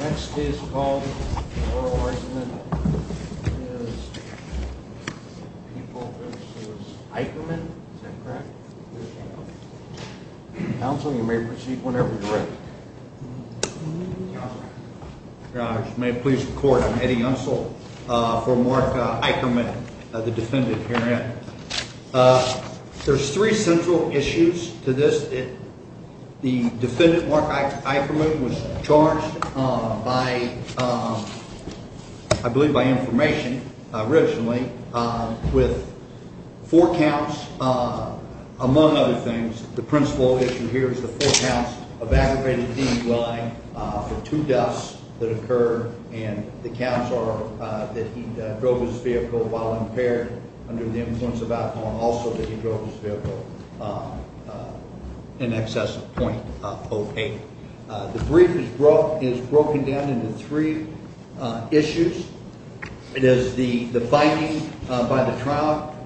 Next is called for oral argument is people versus Eichermann. Is that correct? Counsel, you may proceed whenever you're ready. May it please the court, I'm Eddie Unsel for Mark Eichermann, the defendant herein. There's three central issues to this. The defendant, Mark Eichermann, was charged by I believe by information originally with four counts, among other things. The principal issue here is the four counts of aggravated DUI for two deaths that occurred. And the counts are that he drove his vehicle while impaired under the influence of alcohol and also that he drove his vehicle in excess of .08. The brief is broken down into three issues. It is the finding by the trial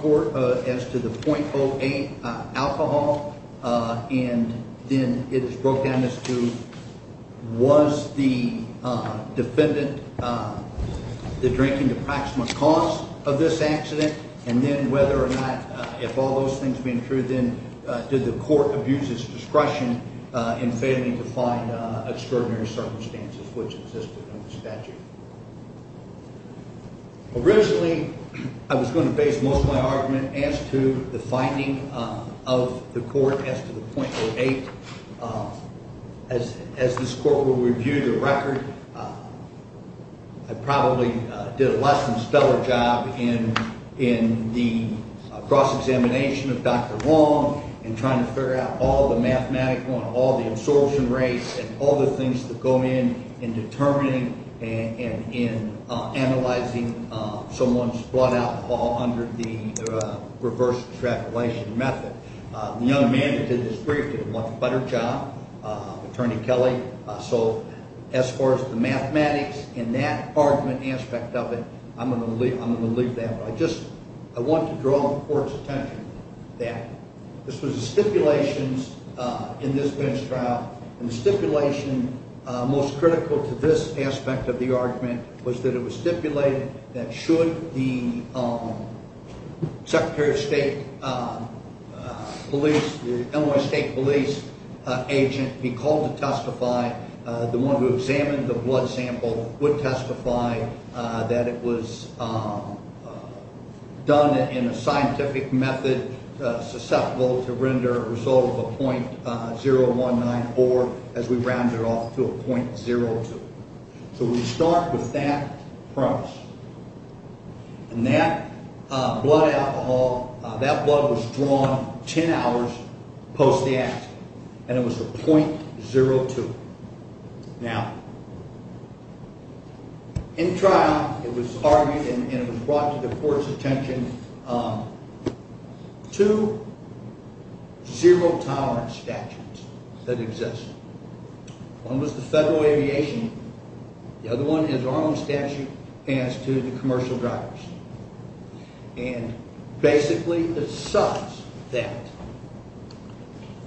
court as to the .08 alcohol. And then it is broken down as to was the defendant, the drinking the proximate cause of this accident. And then whether or not if all those things being true, then did the court abuse his discretion in failing to find extraordinary circumstances which existed under the statute. Originally, I was going to base most of my argument as to the finding of the court as to the .08. As this court will review the record, I probably did a less than stellar job in the cross-examination of Dr. Wong and trying to figure out all the mathematics on all the absorption rates and all the things that go in in determining and in analyzing someone's blood alcohol under the reverse extrapolation method. The other man that did this brief did a much better job, Attorney Kelly. So as far as the mathematics in that argument aspect of it, I'm going to leave that. But I just want to draw the court's attention that this was a stipulation in this bench trial. And the stipulation most critical to this aspect of the argument was that it was stipulated that should the Secretary of State police, the Illinois State police agent be called to testify, the one who examined the blood sample would testify that it was done in a scientific method susceptible to render a result of a .0194 as we round it off to a .02. So we start with that premise. And that blood alcohol, that blood was drawn ten hours post the accident. And it was the .02. Now, in trial, it was argued and it was brought to the court's attention two zero tolerance statutes that exist. One was the federal aviation. The other one is our own statute as to the commercial drivers. And basically it's such that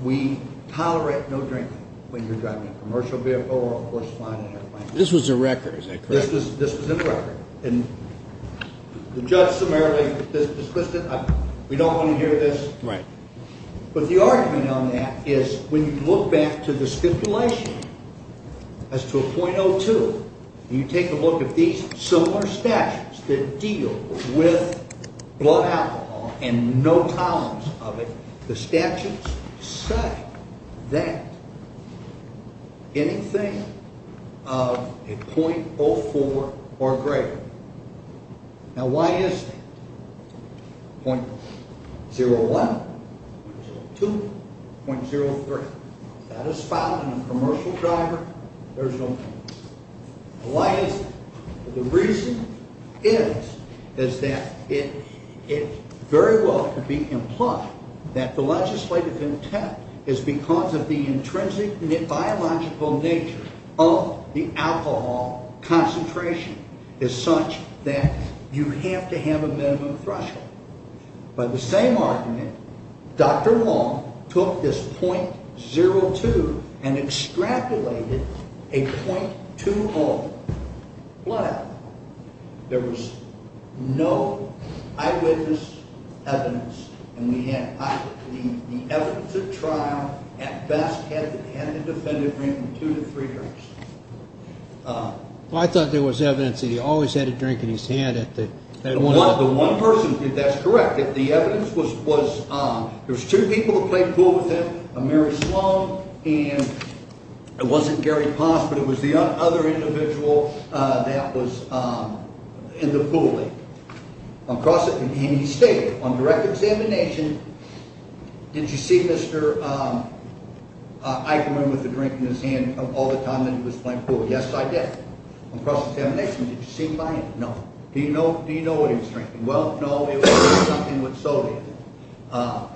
we tolerate no drinking when you're driving a commercial vehicle or, of course, flying an airplane. This was a record, is that correct? This was in record. And the judge summarily dismissed it. We don't want to hear this. Right. But the argument on that is when you look back to the stipulation as to a .02, you take a look at these similar statutes that deal with blood alcohol and no tolerance of it, the statutes say that anything of a .04 or greater. Now, why is that? .01, .02, .03. That is found in a commercial driver. There's no tolerance. Why is that? The reason is that it very well could be implied that the legislative intent is because of the intrinsic biological nature of the alcohol concentration is such that you have to have a minimum threshold. By the same argument, Dr. Wong took this .02 and extrapolated a .20 blood alcohol. There was no eyewitness evidence. And the evidence at trial at best had the defendant drinking two to three drinks. I thought there was evidence that he always had a drink in his hand. The one person, that's correct, that the evidence was there was two people who played pool with him, Mary Sloan, and it wasn't Gary Poss, but it was the other individual that was in the pool. And he stated, on direct examination, did you see Mr. Eichmann with a drink in his hand all the time that he was playing pool? Yes, I did. On cross-examination, did you see him by hand? No. Do you know what he was drinking? Well, no, it was something with soda in it.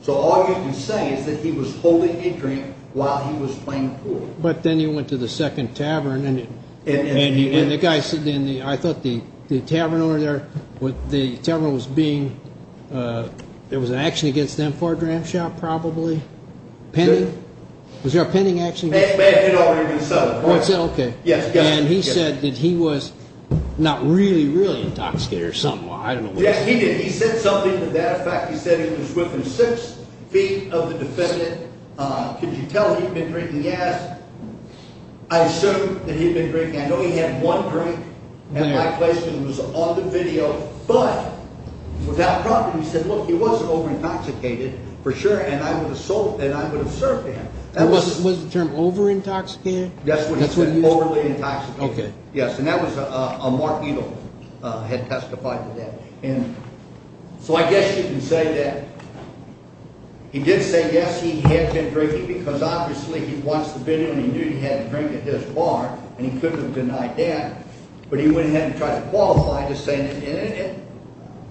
So all you can say is that he was holding a drink while he was playing pool. But then he went to the second tavern, and the guy sitting there, I thought the tavern owner there, the tavern was being, there was an action against them for a dram shop probably? Pending? Was there a pending action? It may have been already been settled. Oh, it's okay. Yes, yes. And he said that he was not really, really intoxicated or something. Well, I don't know. Yes, he did. He said something to that effect. He said he was within six feet of the defendant. Could you tell he'd been drinking? He asked. I assumed that he'd been drinking. I know he had one drink, and my question was on the video. But without problem, he said, look, he wasn't over-intoxicated for sure, and I would assert that. Was the term over-intoxicated? That's what he said, overly intoxicated. Okay. Yes, and that was a Mark Edel had testified to that. So I guess you can say that he did say, yes, he had been drinking, because obviously he watched the video, and he knew he had a drink at this bar, and he couldn't have denied that. But he went ahead and tried to qualify just saying that. And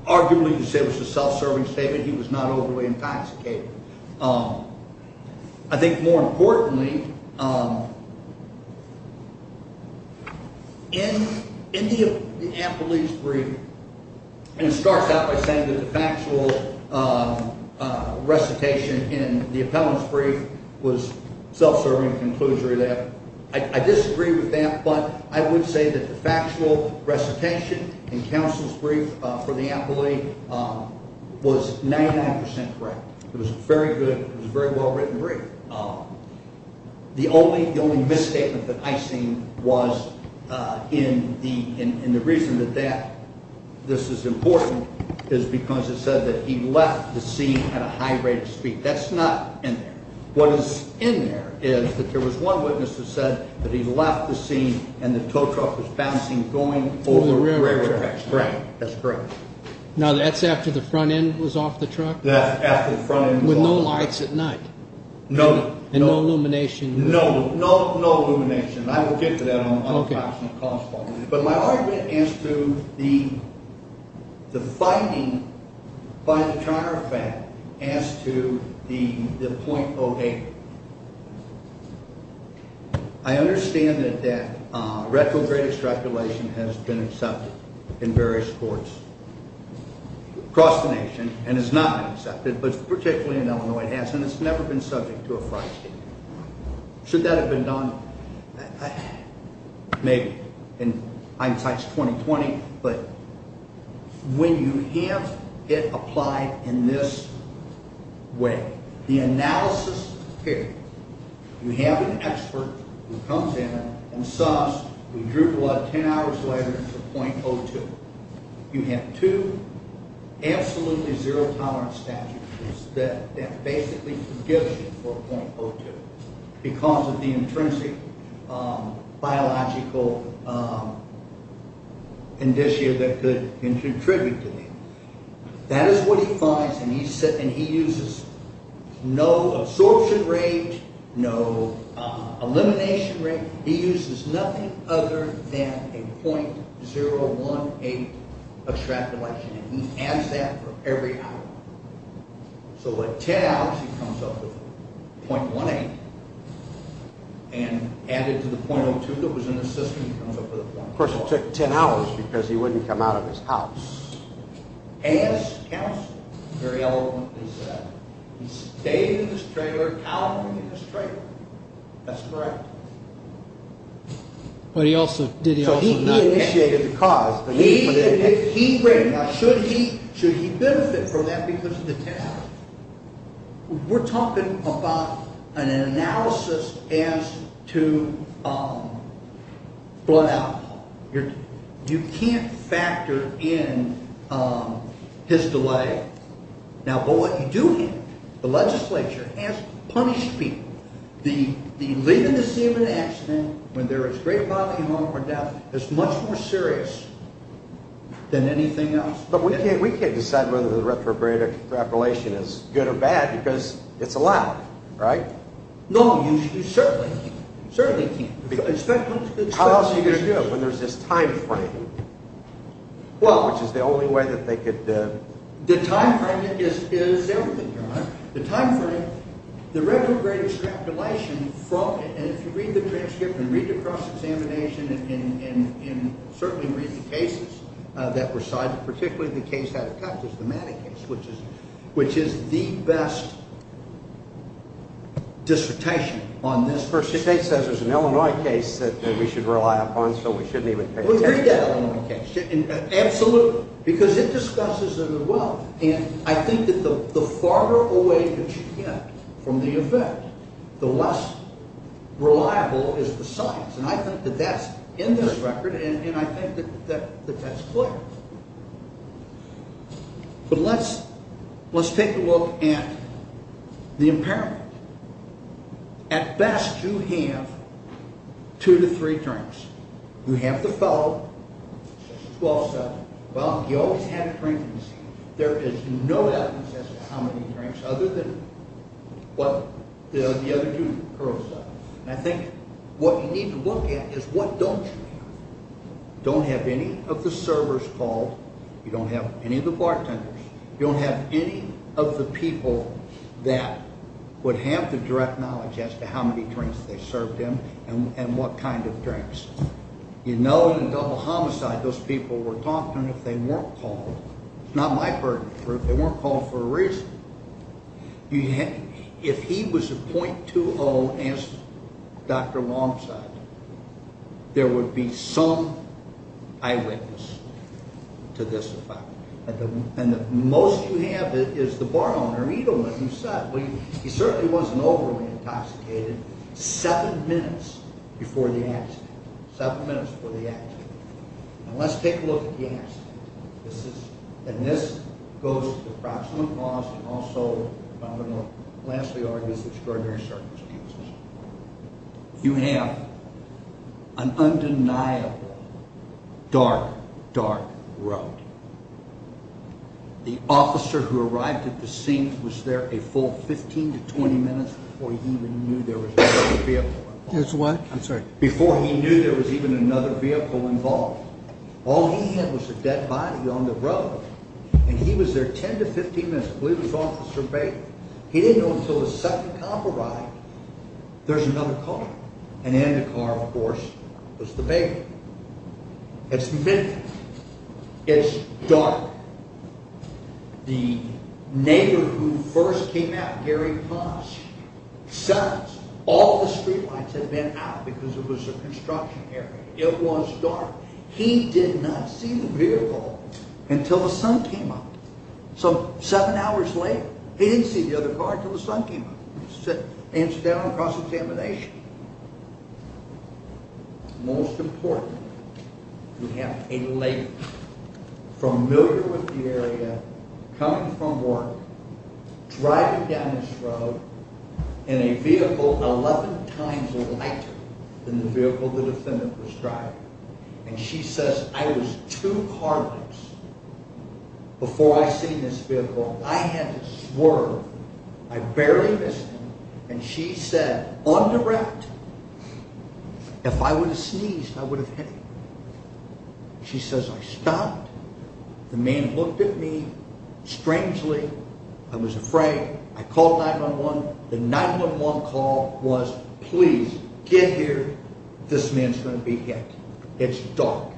arguably, you could say it was a self-serving statement. He was not overly intoxicated. I think more importantly, in the appellee's brief, and it starts out by saying that the factual recitation in the appellant's brief was self-serving, a conclusion to that, I disagree with that, but I would say that the factual recitation in counsel's brief for the appellee was 99% correct. It was very good. It was a very well-written brief. The only misstatement that I've seen was in the reason that this is important is because it said that he left the scene at a high rate of speed. That's not in there. What is in there is that there was one witness that said that he left the scene and the tow truck was bouncing going over the railroad tracks. Right. That's correct. Now, that's after the front end was off the truck? With no lights at night? No. And no illumination? No. No illumination. I will get to that on an approximate cost point. Okay. But my argument as to the finding by the chiropractor as to the .08, I understand that retrograde extrapolation has been accepted in various courts across the nation and has not been accepted, but particularly in Illinois it has, and it's never been subject to a fraud scheme. Should that have been done? Maybe. In hindsight, it's 20-20. But when you have it applied in this way, the analysis period, you have an expert who comes in and says we drew blood 10 hours later to .02. You have two absolutely zero tolerance statutes that basically forgive you for .02 because of the intrinsic biological condition that could contribute to that. That is what he finds, and he uses no absorption rate, no elimination rate. He uses nothing other than a .018 extrapolation, and he adds that for every hour. So at 10 hours, he comes up with .18, and added to the .02 that was in the system, he comes up with a .12. Of course, it took 10 hours because he wouldn't come out of his house. As counsel very eloquently said, he stayed in his trailer, That's correct. He initiated the cause. Should he benefit from that because of the 10 hours? We're talking about an analysis as to blood alcohol. You can't factor in his delay. But what you do have, the legislature has punished people. Leaving the scene of an accident when there is great bodily harm or death is much more serious than anything else. But we can't decide whether the retrograde extrapolation is good or bad because it's allowed, right? No, you certainly can't. How else are you going to do it when there's this time frame, which is the only way that they could The time frame is everything, Your Honor. The time frame, the retrograde extrapolation, and if you read the transcript, and read the cross-examination, and certainly read the cases that were cited, particularly the case out of Texas, the Maddox case, which is the best dissertation on this. The state says it's an Illinois case that we should rely upon, so we shouldn't even take the test. Absolutely. Because it discusses a good will, and I think that the farther away that you get from the event, the less reliable is the science, and I think that that's in this record, and I think that that's clear. But let's take a look at the impairment. At best, you have two to three drinks. You have the fellow, 12-7. Well, you always have drinks. There is no evidence as to how many drinks, other than what the other two girls said. And I think what you need to look at is what don't you have. You don't have any of the servers called. You don't have any of the bartenders. You don't have any of the people that would have the direct knowledge as to how many drinks they served him and what kind of drinks. You know in a double homicide, those people were talking if they weren't called. It's not my burden. They weren't called for a reason. If he was a .20, as Dr. Long said, there would be some eyewitness to this effect. And the most you have is the bar owner, Edelman, who said, well, he certainly wasn't overly intoxicated seven minutes before the accident. Seven minutes before the accident. Now let's take a look at the accident. And this goes to approximate loss and also, I'm going to lastly argue, extraordinary circumstances. You have an undeniable dark, dark road. The officer who arrived at the scene was there a full 15 to 20 minutes before he even knew there was another vehicle involved. Before he knew there was even another vehicle involved. All he had was a dead body on the road. And he was there 10 to 15 minutes. He didn't know until the second cop arrived, there's another car. And in the car, of course, was the baby. It's midnight. It's dark. The neighbor who first came out, Gary Posh, says all the street lights had been out because it was a construction area. It was dark. He did not see the vehicle until the sun came up. So seven hours later, he didn't see the other car until the sun came up. He answered that on a cross-examination. Most important, you have a lady familiar with the area, coming from work, driving down this road in a vehicle 11 times lighter than the vehicle the defendant was driving. And she says, I was two car lengths before I seen this vehicle. I had to swerve. I barely missed him. And she said, on the route, if I would have sneezed, I would have hit him. She says, I stopped. The man looked at me strangely. I was afraid. I called 911. The 911 call was, please, get here. This man's going to be hit. It's dark.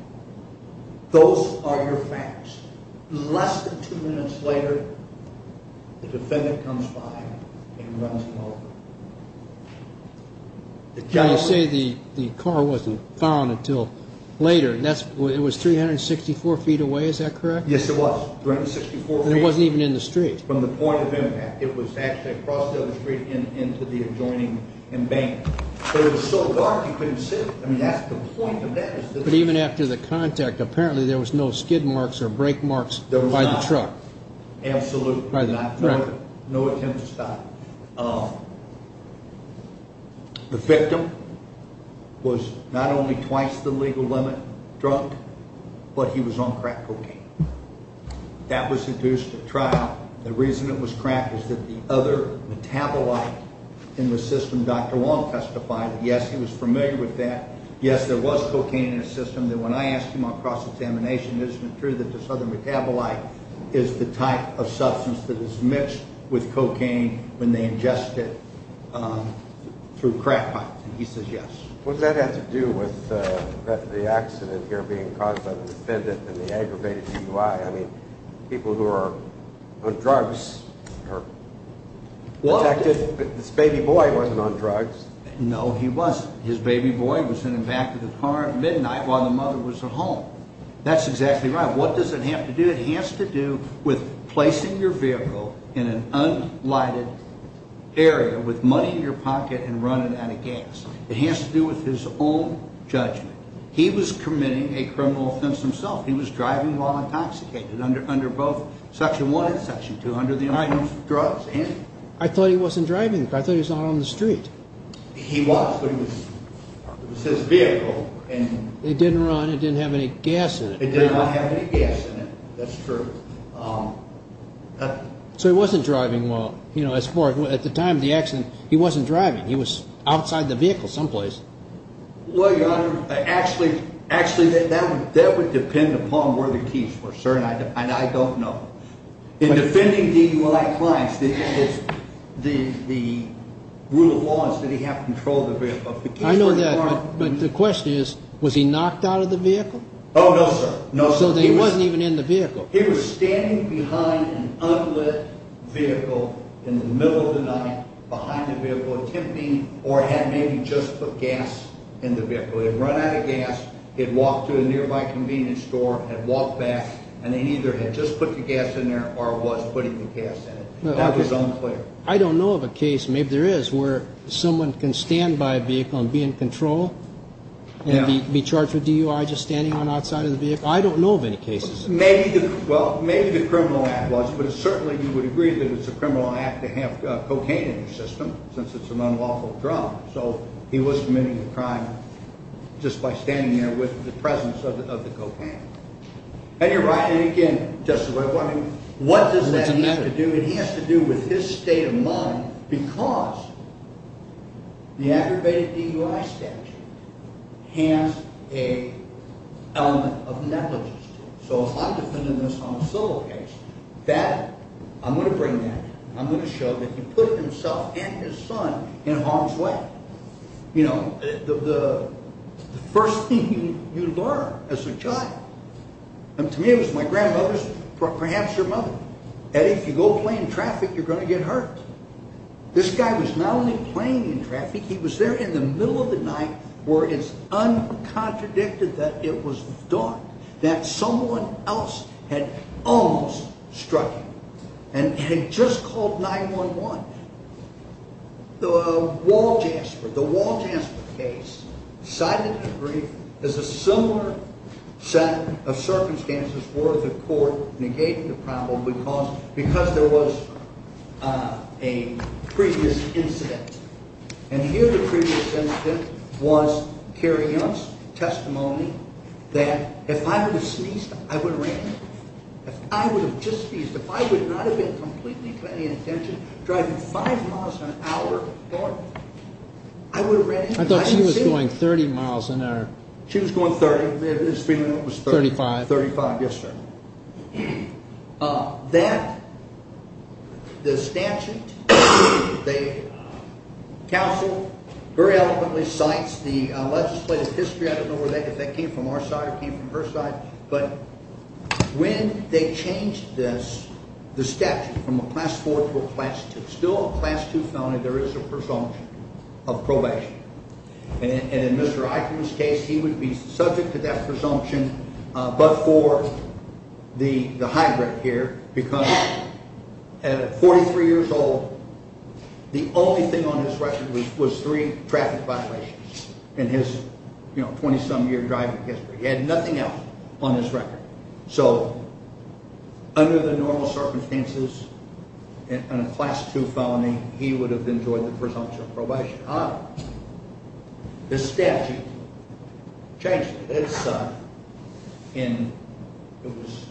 Those are your facts. Less than two minutes later, the defendant comes by and runs over. You say the car wasn't found until later. It was 364 feet away. Is that correct? Yes, it was. And it wasn't even in the street. From the point of impact, it was actually across the other street and into the adjoining embankment. It was so dark, you couldn't see it. I mean, that's the point of that. But even after the contact, apparently there was no skid marks or brake marks by the truck. There was not. Absolutely not. By the truck. No attempt to stop. The victim was not only twice the legal limit drunk, but he was on crack cocaine. That was induced at trial. The reason it was crack is that the other metabolite in the system, Dr. Long testified, yes, he was familiar with that. Yes, there was cocaine in his system. Then when I asked him on cross-examination, isn't it true that this other metabolite is the type of substance that is mixed with cocaine when they ingest it through crack pipes? And he says yes. What does that have to do with the accident here being caused by the defendant and the aggravated DUI? I mean, people who are on drugs are protected. This baby boy wasn't on drugs. No, he wasn't. His baby boy was in the back of the car at midnight while the mother was at home. That's exactly right. What does it have to do? It has to do with placing your vehicle in an unlighted area with money in your pocket and running out of gas. It has to do with his own judgment. He was committing a criminal offense himself. He was driving while intoxicated under both Section 1 and Section 2, under the items of drugs. I thought he wasn't driving. I thought he was not on the street. He was, but it was his vehicle. It didn't run. It didn't have any gas in it. It did not have any gas in it. That's true. So he wasn't driving while, you know, at the time of the accident, he wasn't driving. He was outside the vehicle someplace. Well, Your Honor, actually, that would depend upon where the keys were, sir, and I don't know. In defending DUI clients, the rule of law is that he have control of the vehicle. I know that, but the question is, was he knocked out of the vehicle? Oh, no, sir. So he wasn't even in the vehicle. He was standing behind an unlit vehicle in the middle of the night, behind the vehicle, attempting or had maybe just put gas in the vehicle. He had run out of gas. He had walked to a nearby convenience store, had walked back, and he either had just put the gas in there or was putting the gas in it. That was unclear. I don't know of a case, maybe there is, where someone can stand by a vehicle and be in control and be charged with DUI just standing on the outside of the vehicle. I don't know of any cases. Well, maybe the criminal act was, but certainly you would agree that it's a criminal act to have cocaine in the system since it's an unlawful drug. So he was committing a crime just by standing there with the presence of the cocaine. And, Your Honor, again, just what does that have to do? It has to do with his state of mind because the aggravated DUI statute has an element of negligence to it. So if I'm defending this on a civil case, that, I'm going to bring that. I'm going to show that he put himself and his son in harm's way. You know, the first thing you learn as a child, and to me it was my grandmother's, perhaps her mother, that if you go play in traffic, you're going to get hurt. This guy was not only playing in traffic, he was there in the middle of the night where it's uncontradicted that it was dark, that someone else had almost struck him and had just called 911. The Wall Jasper case cited in the brief is a similar set of circumstances where the court negated the problem because there was a previous incident. And here the previous incident was Kerry Young's testimony that if I would have sneezed, I would have ran. If I would have just sneezed, if I would not have been completely paying attention, driving five miles an hour, I would have ran. I thought she was going 30 miles an hour. She was going 30. 35. 35, yes, sir. That, the statute, the counsel very eloquently cites the legislative history. I don't know if that came from our side or came from her side, but when they changed the statute from a Class IV to a Class II, still a Class II felony, there is a presumption of probation. And in Mr. Eichmann's case, he would be subject to that presumption but for the hybrid here because at 43 years old, the only thing on his record was three traffic violations in his 20-some year driving history. He had nothing else on his record. So under the normal circumstances, in a Class II felony, he would have enjoyed the presumption of probation. This statute changed it. It was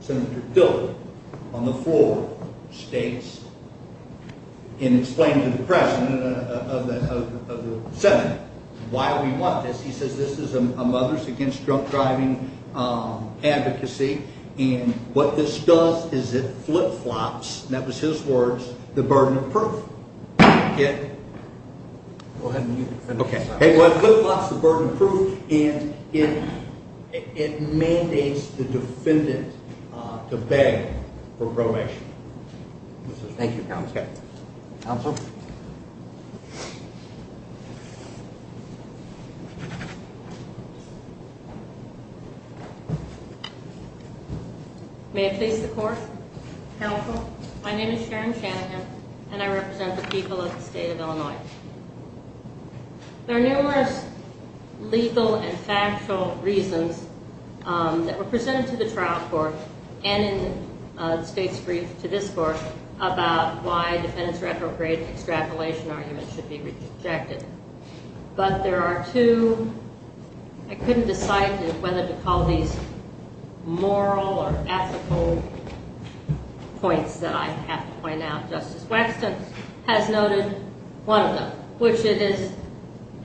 Senator Dillard on the floor, states, and explained to the President of the Senate why we want this. He says this is a Mothers Against Drunk Driving advocacy, and what this does is it flip-flops, and that was his words, the burden of proof. It flip-flops the burden of proof, and it mandates the defendant to beg for probation. Thank you, Counsel. Counsel? May it please the Court? Counsel? My name is Sharon Shanahan, and I represent the people of the state of Illinois. There are numerous legal and factual reasons that were presented to the trial court and in the state's brief to this court about why defendants' retrograde extrapolation arguments should be rejected. But there are two, I couldn't decide whether to call these moral or ethical points that I have to point out. Justice Waxman has noted one of them, which it is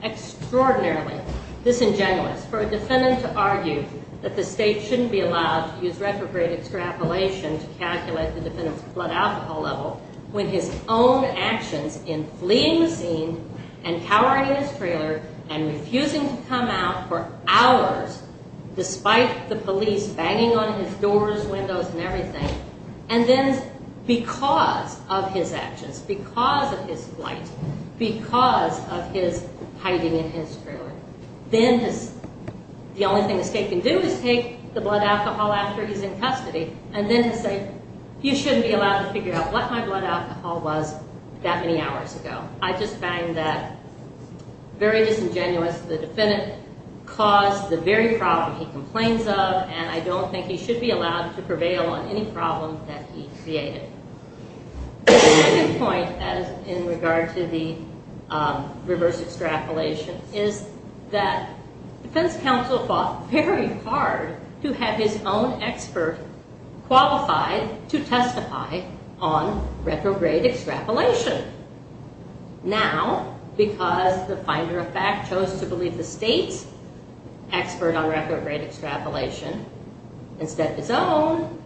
extraordinarily disingenuous for a defendant to argue that the state shouldn't be allowed to use retrograde extrapolation to calculate the defendant's blood alcohol level with his own actions in fleeing the scene and cowering in his trailer and refusing to come out for hours, despite the police banging on his doors, windows, and everything, and then because of his actions, because of his flight, because of his hiding in his trailer, then the only thing the state can do is take the blood alcohol after he's in custody and then say, you shouldn't be allowed to figure out what my blood alcohol was that many hours ago. I just find that very disingenuous. The defendant caused the very problem he complains of, and I don't think he should be allowed to prevail on any problem that he created. The second point in regard to the reverse extrapolation is that defense counsel fought very hard to have his own expert qualified to testify on retrograde extrapolation. Now, because the finder of fact chose to believe the state's expert on retrograde extrapolation instead of his own,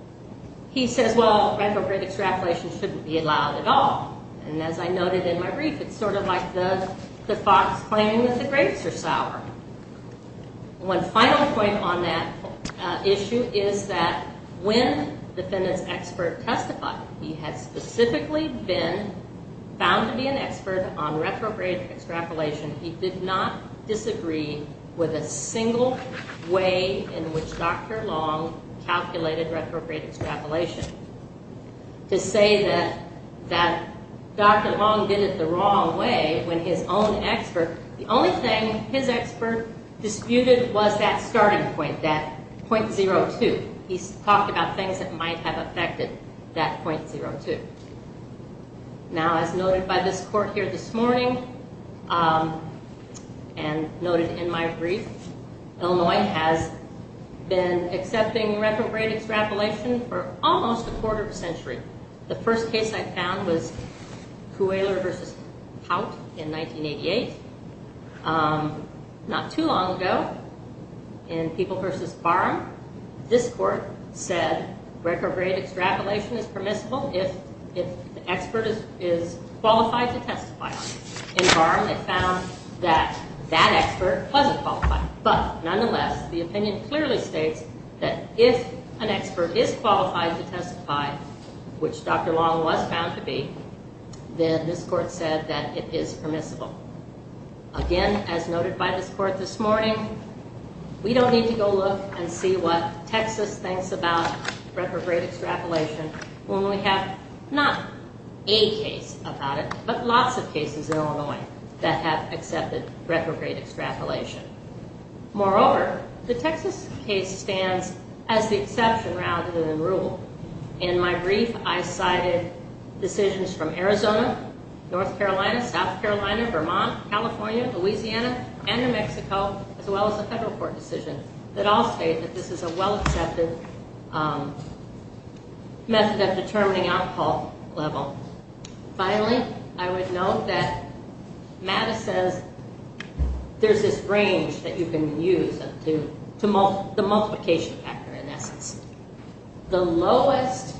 he says, well, retrograde extrapolation shouldn't be allowed at all. And as I noted in my brief, it's sort of like the fox claiming that the grapes are sour. One final point on that issue is that when the defendant's expert testified, he had specifically been found to be an expert on retrograde extrapolation. He did not disagree with a single way in which Dr. Long calculated retrograde extrapolation. To say that Dr. Long did it the wrong way when his own expert, the only thing his expert disputed was that starting point, that .02. He talked about things that might have affected that .02. Now, as noted by this court here this morning, and noted in my brief, Illinois has been accepting retrograde extrapolation for almost a quarter of a century. The first case I found was Cuellar v. Pout in 1988. Not too long ago, in People v. Barham. This court said retrograde extrapolation is permissible if the expert is qualified to testify. In Barham, they found that that expert wasn't qualified. But nonetheless, the opinion clearly states that if an expert is qualified to testify, which Dr. Long was found to be, then this court said that it is permissible. Again, as noted by this court this morning, we don't need to go look and see what Texas thinks about retrograde extrapolation when we have not a case about it, but lots of cases in Illinois that have accepted retrograde extrapolation. Moreover, the Texas case stands as the exception rather than the rule. In my brief, I cited decisions from Arizona, North Carolina, South Carolina, Vermont, California, Louisiana, and New Mexico, as well as a federal court decision that all state that this is a well-accepted method of determining outcall level. Finally, I would note that MATA says there's this range that you can use to the multiplication factor, in essence. The lowest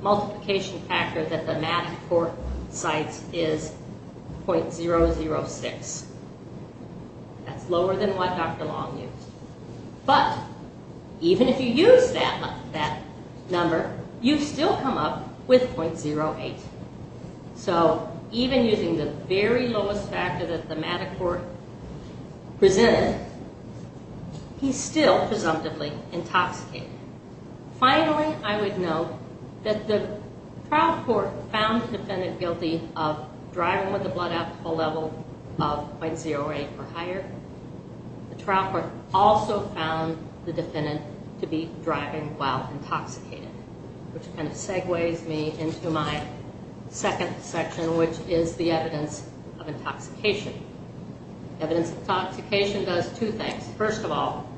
multiplication factor that the MATA court cites is .006. That's lower than what Dr. Long used. But even if you use that number, you still come up with .08. Even using the very lowest factor that the MATA court presented, he's still presumptively intoxicated. Finally, I would note that the trial court found the defendant guilty of driving with the blood out to the level of .08 or higher. The trial court also found the defendant to be driving while intoxicated, which kind of segues me into my second section, which is the evidence of intoxication. Evidence of intoxication does two things. First of all,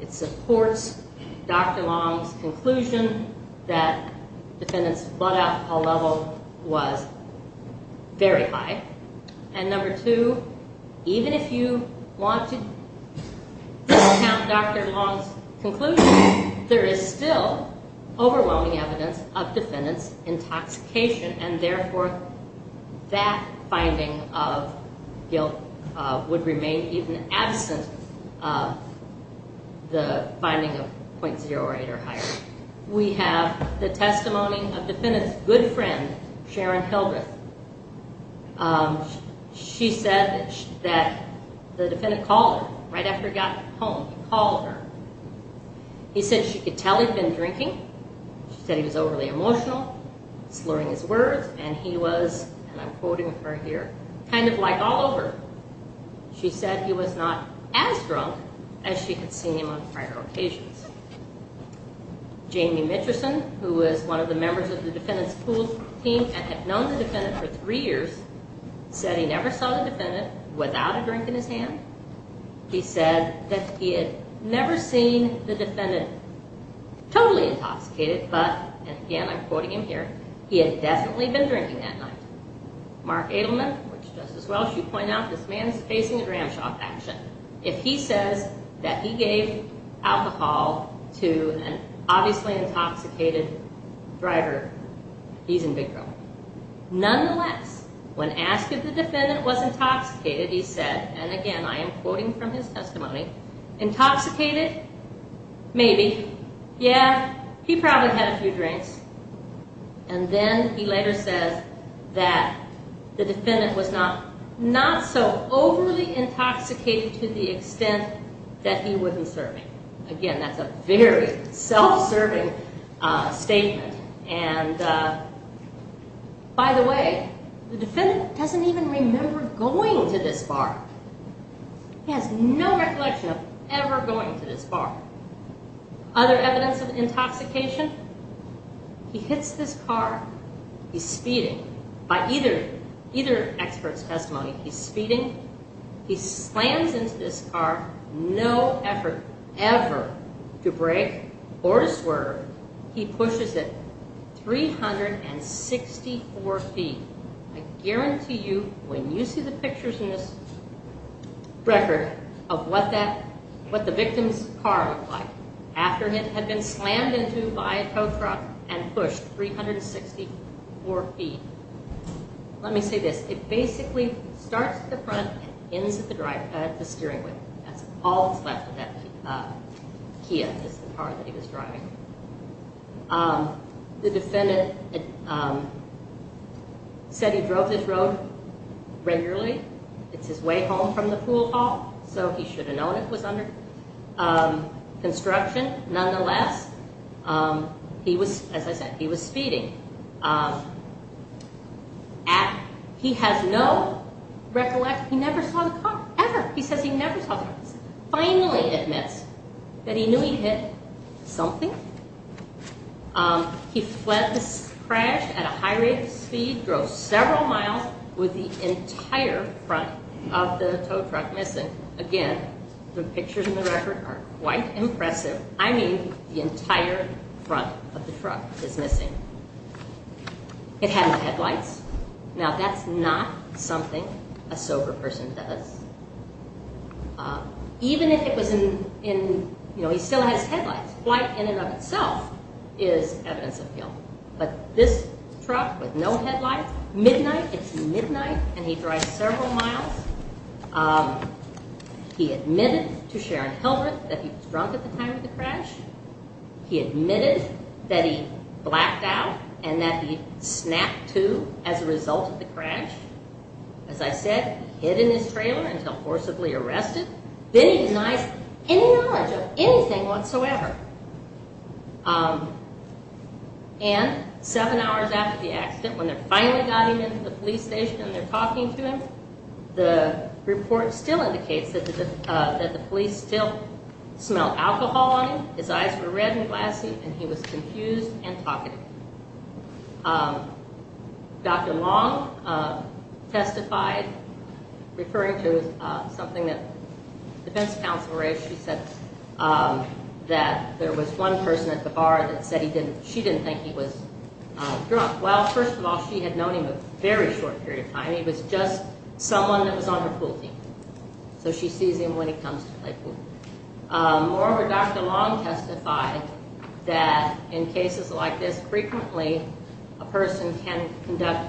it supports Dr. Long's conclusion that the defendant's blood out call level was very high. And number two, even if you want to discount Dr. Long's conclusion, there is still overwhelming evidence of defendant's intoxication. And therefore, that finding of guilt would remain even absent of the finding of .08 or higher. We have the testimony of defendant's good friend, Sharon Hildreth. She said that the defendant called her right after he got home. He called her. He said she could tell he'd been drinking. She said he was overly emotional, slurring his words, and he was, and I'm quoting her here, kind of like all over. She said he was not as drunk as she had seen him on prior occasions. Jamie Mitcherson, who was one of the members of the defendant's pool team and had known the defendant for three years, said he never saw the defendant without a drink in his hand. He said that he had never seen the defendant totally intoxicated, but, and again, I'm quoting him here, he had definitely been drinking that night. Mark Adelman, which just as well as you point out, this man is facing a ramshackle action. If he says that he gave alcohol to an obviously intoxicated driver, he's in big trouble. Nonetheless, when asked if the defendant was intoxicated, he said, and again, I am quoting from his testimony, intoxicated, maybe, yeah, he probably had a few drinks. And then he later says that the defendant was not so overly intoxicated to the extent that he wasn't serving. Again, that's a very self-serving statement. And by the way, the defendant doesn't even remember going to this bar. He has no recollection of ever going to this bar. Other evidence of intoxication, he hits this car, he's speeding. By either expert's testimony, he's speeding. He slams into this car, no effort ever to brake or swerve. He pushes it 364 feet. I guarantee you, when you see the pictures in this record of what the victim's car looked like, after it had been slammed into by a tow truck and pushed 364 feet, let me say this. It basically starts at the front and ends at the steering wheel. That's all that's left of that Kia, is the car that he was driving. The defendant said he drove this road regularly. It's his way home from the pool hall, so he should have known it was under construction. Nonetheless, he was, as I said, he was speeding. He has no recollection. He never saw the car, ever. He says he never saw the car. Finally admits that he knew he hit something. He fled the crash at a high rate of speed, drove several miles with the entire front of the tow truck missing. Again, the pictures in the record are quite impressive. I mean, the entire front of the truck is missing. It had no headlights. Now, that's not something a sober person does. Even if it was in, you know, he still has headlights. Flight in and of itself is evidence of guilt. But this truck with no headlights, midnight, it's midnight, and he drives several miles. He admitted to Sharon Hilbert that he was drunk at the time of the crash. He admitted that he blacked out and that he snapped, too, as a result of the crash. As I said, he hid in his trailer until forcibly arrested. Then he denies any knowledge of anything whatsoever. And seven hours after the accident, when they finally got him into the police station and they're talking to him, the report still indicates that the police still smelled alcohol on him. His eyes were red and glassy and he was confused and talkative. Dr. Long testified, referring to something that the defense counsel raised. She said that there was one person at the bar that said she didn't think he was drunk. Well, first of all, she had known him a very short period of time. He was just someone that was on her pool team, so she sees him when he comes to play pool. Moreover, Dr. Long testified that in cases like this, frequently a person can conduct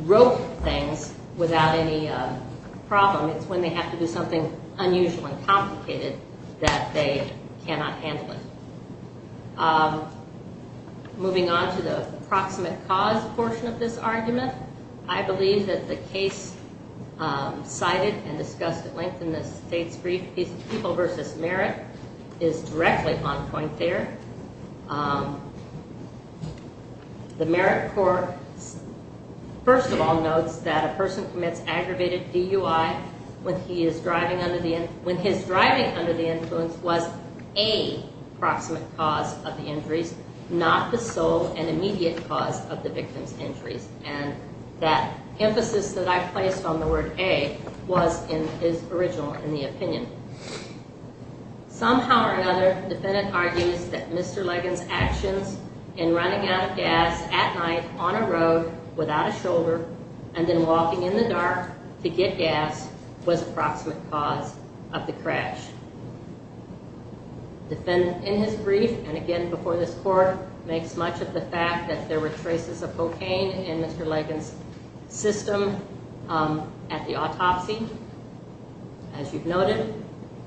rogue things without any problem. It's when they have to do something unusual and complicated that they cannot handle it. Moving on to the proximate cause portion of this argument, I believe that the case cited and discussed at length in the state's brief, people versus merit, is directly on point there. The merit court, first of all, notes that a person commits aggravated DUI when his driving under the influence was a proximate cause of the injuries, not the sole and immediate cause of the victim's injuries. And that emphasis that I placed on the word A was in his original, in the opinion. Somehow or another, the defendant argues that Mr. Ligon's actions in running out of gas at night on a road without a shoulder and then walking in the dark to get gas was a proximate cause of the crash. The defendant, in his brief and again before this court, makes much of the fact that there were traces of cocaine in Mr. Ligon's system at the autopsy. As you've noted,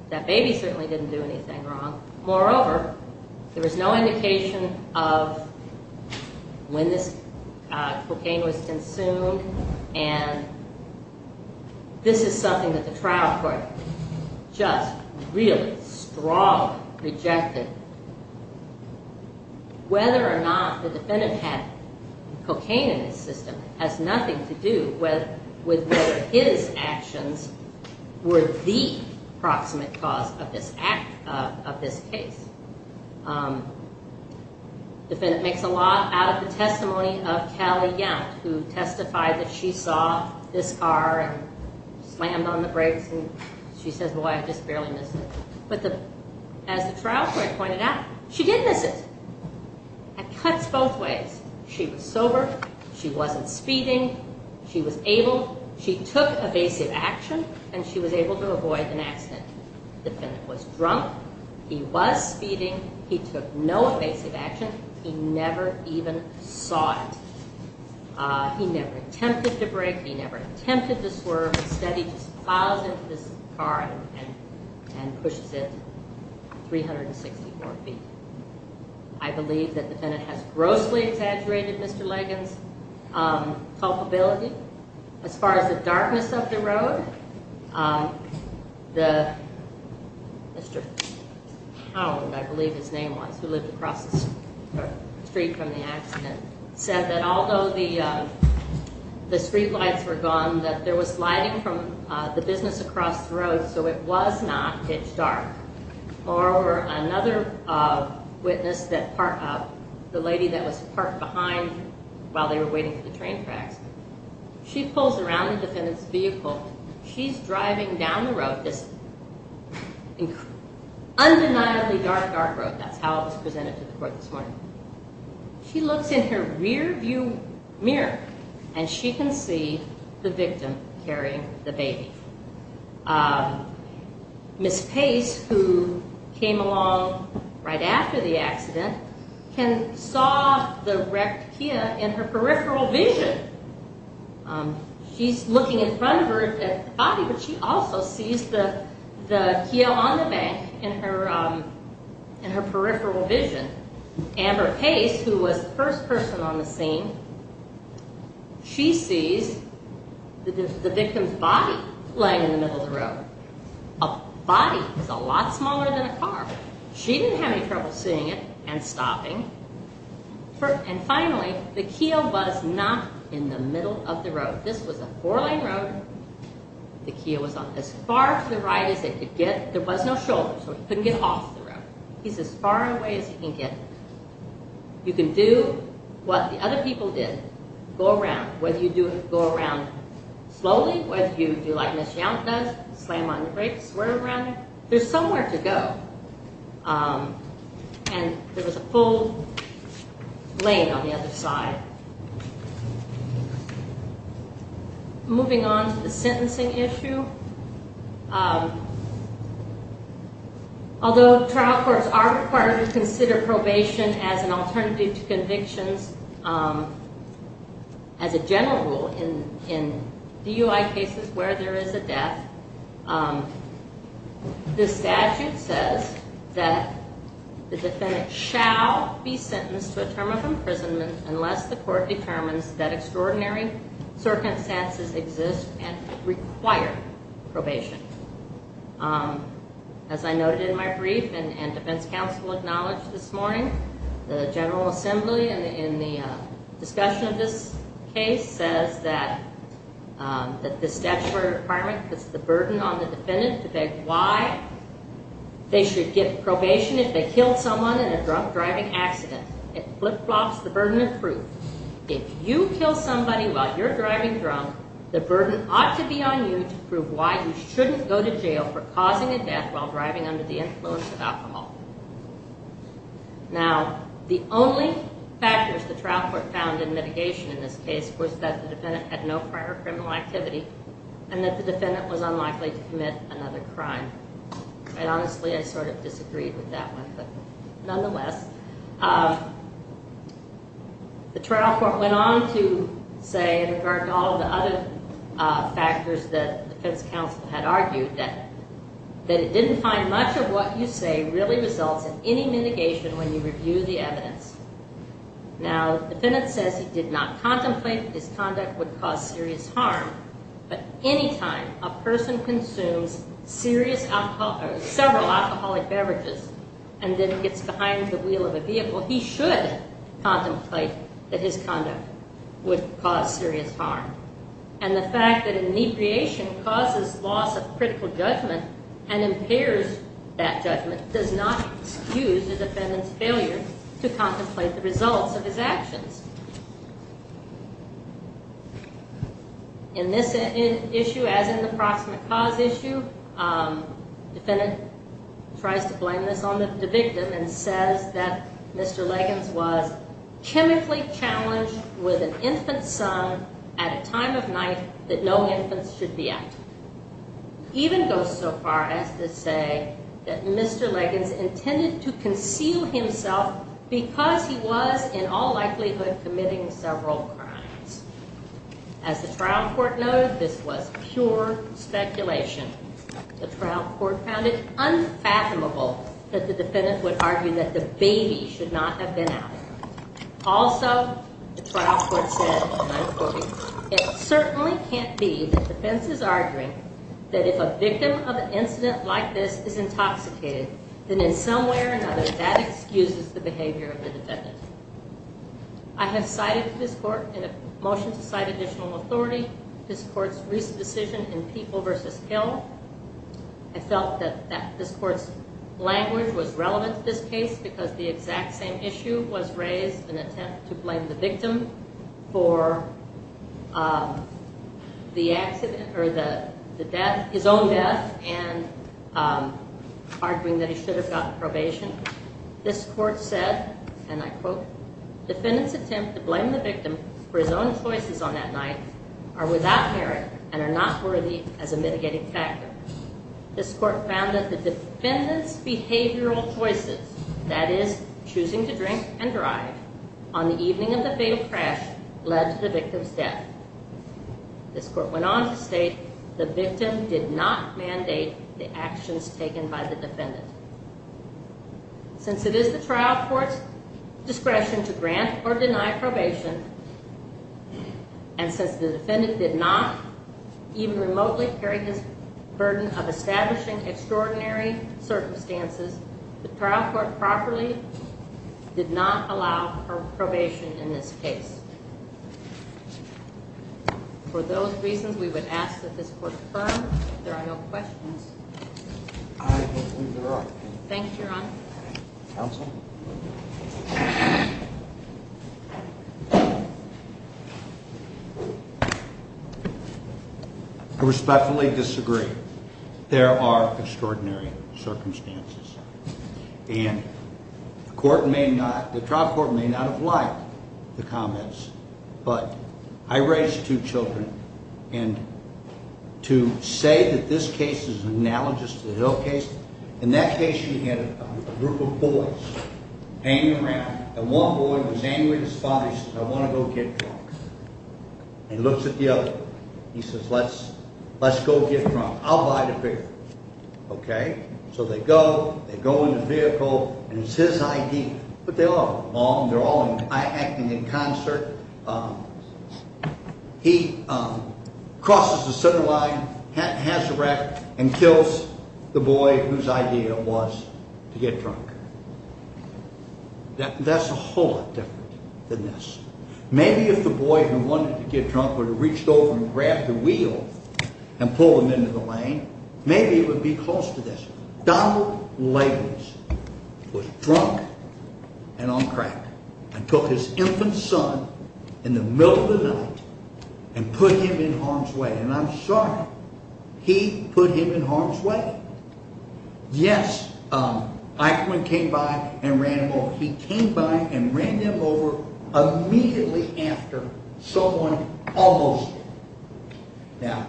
that baby certainly didn't do anything wrong. Moreover, there was no indication of when this cocaine was consumed and this is something that the trial court just really strongly rejected. Whether or not the defendant had cocaine in his system has nothing to do with whether his actions were the proximate cause of this case. The defendant makes a lot out of the testimony of Callie Yount, who testified that she saw this car and slammed on the brakes and she says, as the trial court pointed out, she did miss it. It cuts both ways. She was sober, she wasn't speeding, she was able, she took evasive action and she was able to avoid an accident. The defendant was drunk, he was speeding, he took no evasive action, he never even saw it. He never attempted to brake, he never attempted to swerve, instead he just plows into this car and pushes it 364 feet. I believe that the defendant has grossly exaggerated Mr. Ligon's culpability. As far as the darkness of the road, Mr. Hound, I believe his name was, who lived across the street from the accident, said that although the streetlights were gone, that there was lighting from the business across the road, so it was not pitch dark. Moreover, another witness, the lady that was parked behind while they were waiting for the train tracks, she pulls around the defendant's vehicle, she's driving down the road, this undeniably dark, dark road, that's how it was presented to the court this morning. She looks in her rearview mirror and she can see the victim carrying the baby. Ms. Pace, who came along right after the accident, saw the wrecked Kia in her peripheral vision. She's looking in front of her at the body, but she also sees the Kia on the bank in her peripheral vision Amber Pace, who was the first person on the scene, she sees the victim's body laying in the middle of the road. A body is a lot smaller than a car. She didn't have any trouble seeing it and stopping. And finally, the Kia was not in the middle of the road. This was a four-lane road. The Kia was as far to the right as it could get. There was no shoulder, so it couldn't get off the road. He's as far away as he can get. You can do what the other people did. Go around, whether you go around slowly, whether you do like Ms. Young does, slam on the brakes, swirl around. There's somewhere to go. And there was a full lane on the other side. Moving on to the sentencing issue. Although trial courts are required to consider probation as an alternative to convictions, as a general rule in DUI cases where there is a death, the statute says that the defendant shall be sentenced to a term of imprisonment unless the court determines that extraordinary circumstances exist and require probation. As I noted in my brief and defense counsel acknowledged this morning, the General Assembly, in the discussion of this case, says that this statutory requirement puts the burden on the defendant to beg why they should get probation if they killed someone in a drunk driving accident. It flip-flops the burden of proof. If you kill somebody while you're driving drunk, the burden ought to be on you to prove why you shouldn't go to jail for causing a death while driving under the influence of alcohol. Now, the only factors the trial court found in mitigation in this case was that the defendant had no prior criminal activity and that the defendant was unlikely to commit another crime. And honestly, I sort of disagreed with that one. But nonetheless, the trial court went on to say, in regard to all of the other factors that defense counsel had argued, that it didn't find much of what you say really results in any mitigation when you review the evidence. Now, the defendant says he did not contemplate that his conduct would cause serious harm, but any time a person consumes several alcoholic beverages and then gets behind the wheel of a vehicle, he should contemplate that his conduct would cause serious harm. And the fact that a mediation causes loss of critical judgment and impairs that judgment does not excuse the defendant's failure to contemplate the results of his actions. In this issue, as in the proximate cause issue, the defendant tries to blame this on the victim and says that Mr. Liggins was chemically challenged with an infant son at a time of night that no infants should be out. Even goes so far as to say that Mr. Liggins intended to conceal himself because he was in all likelihood committing several crimes. As the trial court noted, this was pure speculation. The trial court found it unfathomable that the defendant would argue that the baby should not have been out. Also, the trial court said, and I'm quoting, it certainly can't be that defense is arguing that if a victim of an incident like this is intoxicated, then in some way or another that excuses the behavior of the defendant. I have cited this court in a motion to cite additional authority this court's recent decision in People v. Hill. I felt that this court's language was relevant to this case because the exact same issue was raised in an attempt to blame the victim for the accident or his own death and arguing that he should have gotten probation. This court said, and I quote, defendant's attempt to blame the victim for his own choices on that night are without merit and are not worthy as a mitigating factor. This court found that the defendant's behavioral choices, that is choosing to drink and drive on the evening of the fatal crash, led to the victim's death. This court went on to state the victim did not mandate the actions taken by the defendant. Since it is the trial court's discretion to grant or deny probation, and since the defendant did not even remotely carry his burden of establishing extraordinary circumstances, the trial court properly did not allow probation in this case. For those reasons, we would ask that this court confirm if there are no questions. I believe there are. Thank you, Your Honor. Counsel? I respectfully disagree. There are extraordinary circumstances, and the trial court may not have liked the comments, but I raised two children, and to say that this case is analogous to the Hill case, in that case you had a group of boys hanging around, and one boy was angry at his father. He says, I want to go get drunk. He looks at the other one. He says, let's go get drunk. I'll buy the beer. Okay? So they go. They go in the vehicle, and it's his idea. But they all are mom. They're all acting in concert. He crosses the center line, has a wreck, and kills the boy whose idea it was to get drunk. That's a whole lot different than this. Maybe if the boy who wanted to get drunk would have reached over and grabbed the wheel and pulled him into the lane, maybe it would be close to this. Donald Lavers was drunk and on crack and took his infant son in the middle of the night and put him in harm's way. And I'm sorry. He put him in harm's way? Yes. Eichmann came by and ran him over. He came by and ran him over immediately after someone almost did. Now,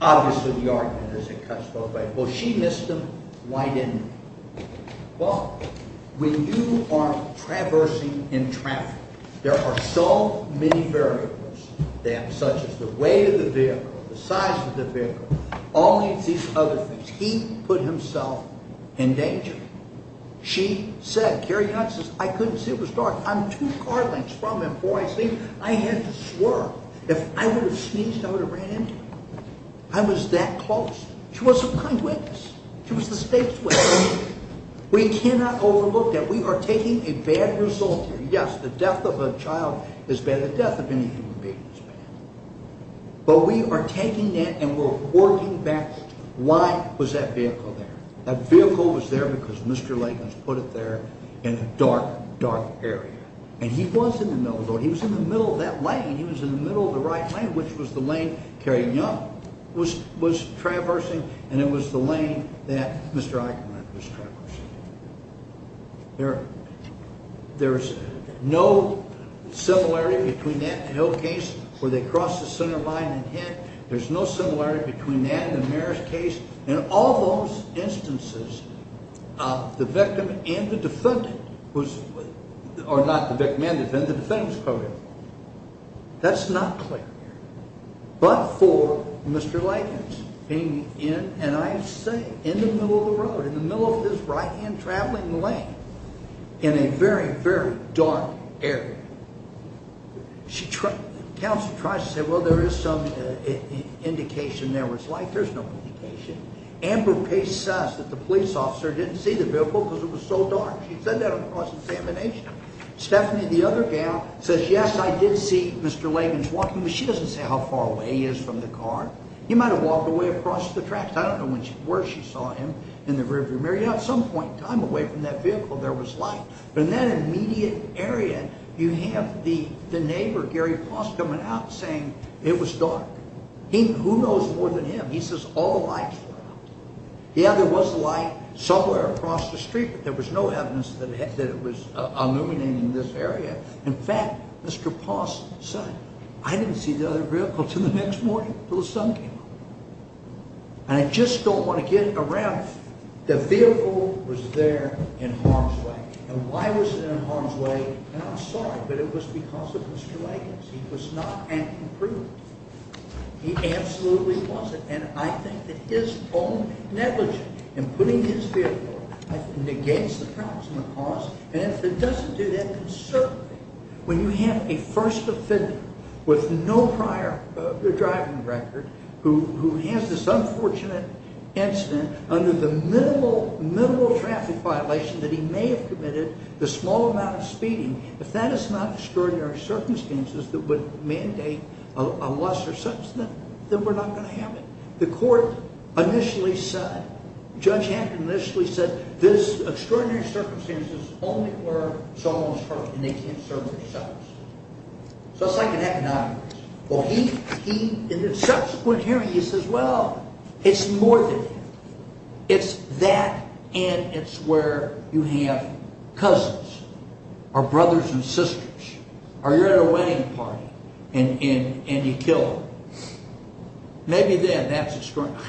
obviously the argument is it cuts both ways. Well, she missed him. Why didn't he? Well, when you are traversing in traffic, there are so many variables, such as the weight of the vehicle, the size of the vehicle, all these other things. He put himself in danger. She said, Carrie Hunt says, I couldn't see. It was dark. I'm two car lengths from him before I see him. I had to swerve. If I would have sneezed, I would have ran into him. I was that close. She was a blind witness. She was the state's witness. We cannot overlook that. We are taking a bad result here. Yes, the death of a child is bad. The death of any human being is bad. But we are taking that and we're working back. Why was that vehicle there? That vehicle was there because Mr. Lavers put it there in a dark, dark area. And he was in the middle of the road. He was in the middle of that lane. He was in the middle of the right lane, which was the lane Carrie Hunt was traversing, and it was the lane that Mr. Eichmann was traversing. There's no similarity between that and the Hill case where they crossed the center line and hit. There's no similarity between that and the Marist case. In all those instances, the victim and the defendant was – or not the victim and the defendant. The defendant was probably in the middle. That's not clear. But for Mr. Lavers being in, and I say, in the middle of the road, in the middle of his right-hand traveling lane, in a very, very dark area, the counsel tries to say, well, there is some indication there was light. There's no indication. Amber Pace says that the police officer didn't see the vehicle because it was so dark. She said that on cross-examination. Stephanie, the other gal, says, yes, I did see Mr. Lavers walking, but she doesn't say how far away he is from the car. He might have walked away across the tracks. I don't know where she saw him in the rear view mirror. At some point in time, away from that vehicle, there was light. But in that immediate area, you have the neighbor, Gary Pross, coming out saying it was dark. Who knows more than him? He says all lights were out. Yeah, there was light somewhere across the street, but there was no evidence that it was illuminating this area. In fact, Mr. Pross said, I didn't see the other vehicle until the next morning, until the sun came up. And I just don't want to get around the vehicle was there in harm's way. And why was it in harm's way? And I'm sorry, but it was because of Mr. Lakers. He was not an improvement. He absolutely wasn't. And I think that his own negligence in putting his vehicle against the problems and the cause, and if it doesn't do that, then certainly when you have a first offender with no prior driving record who has this unfortunate incident under the minimal traffic violation that he may have committed, the small amount of speeding, if that is not extraordinary circumstances that would mandate a lesser sentence, then we're not going to have it. The court initially said, Judge Hampton initially said, this extraordinary circumstances only where someone was hurt and they can't serve themselves. So it's like an economics. Well, he, in the subsequent hearing, he says, well, it's more than that. It's that and it's where you have cousins or brothers and sisters, or you're at a wedding party and you kill them. Maybe then that's extraordinary.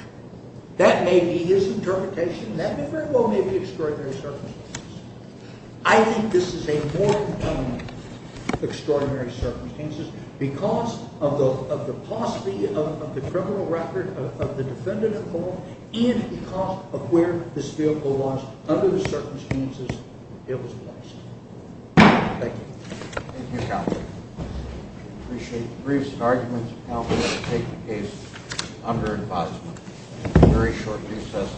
That may be his interpretation. That very well may be extraordinary circumstances. I think this is a more compelling extraordinary circumstances because of the paucity of the criminal record of the defendant involved and because of where this vehicle was under the circumstances it was placed. Thank you. Thank you, counsel. I appreciate the briefs and arguments. I'm going to take the case under advisement. A very short recess.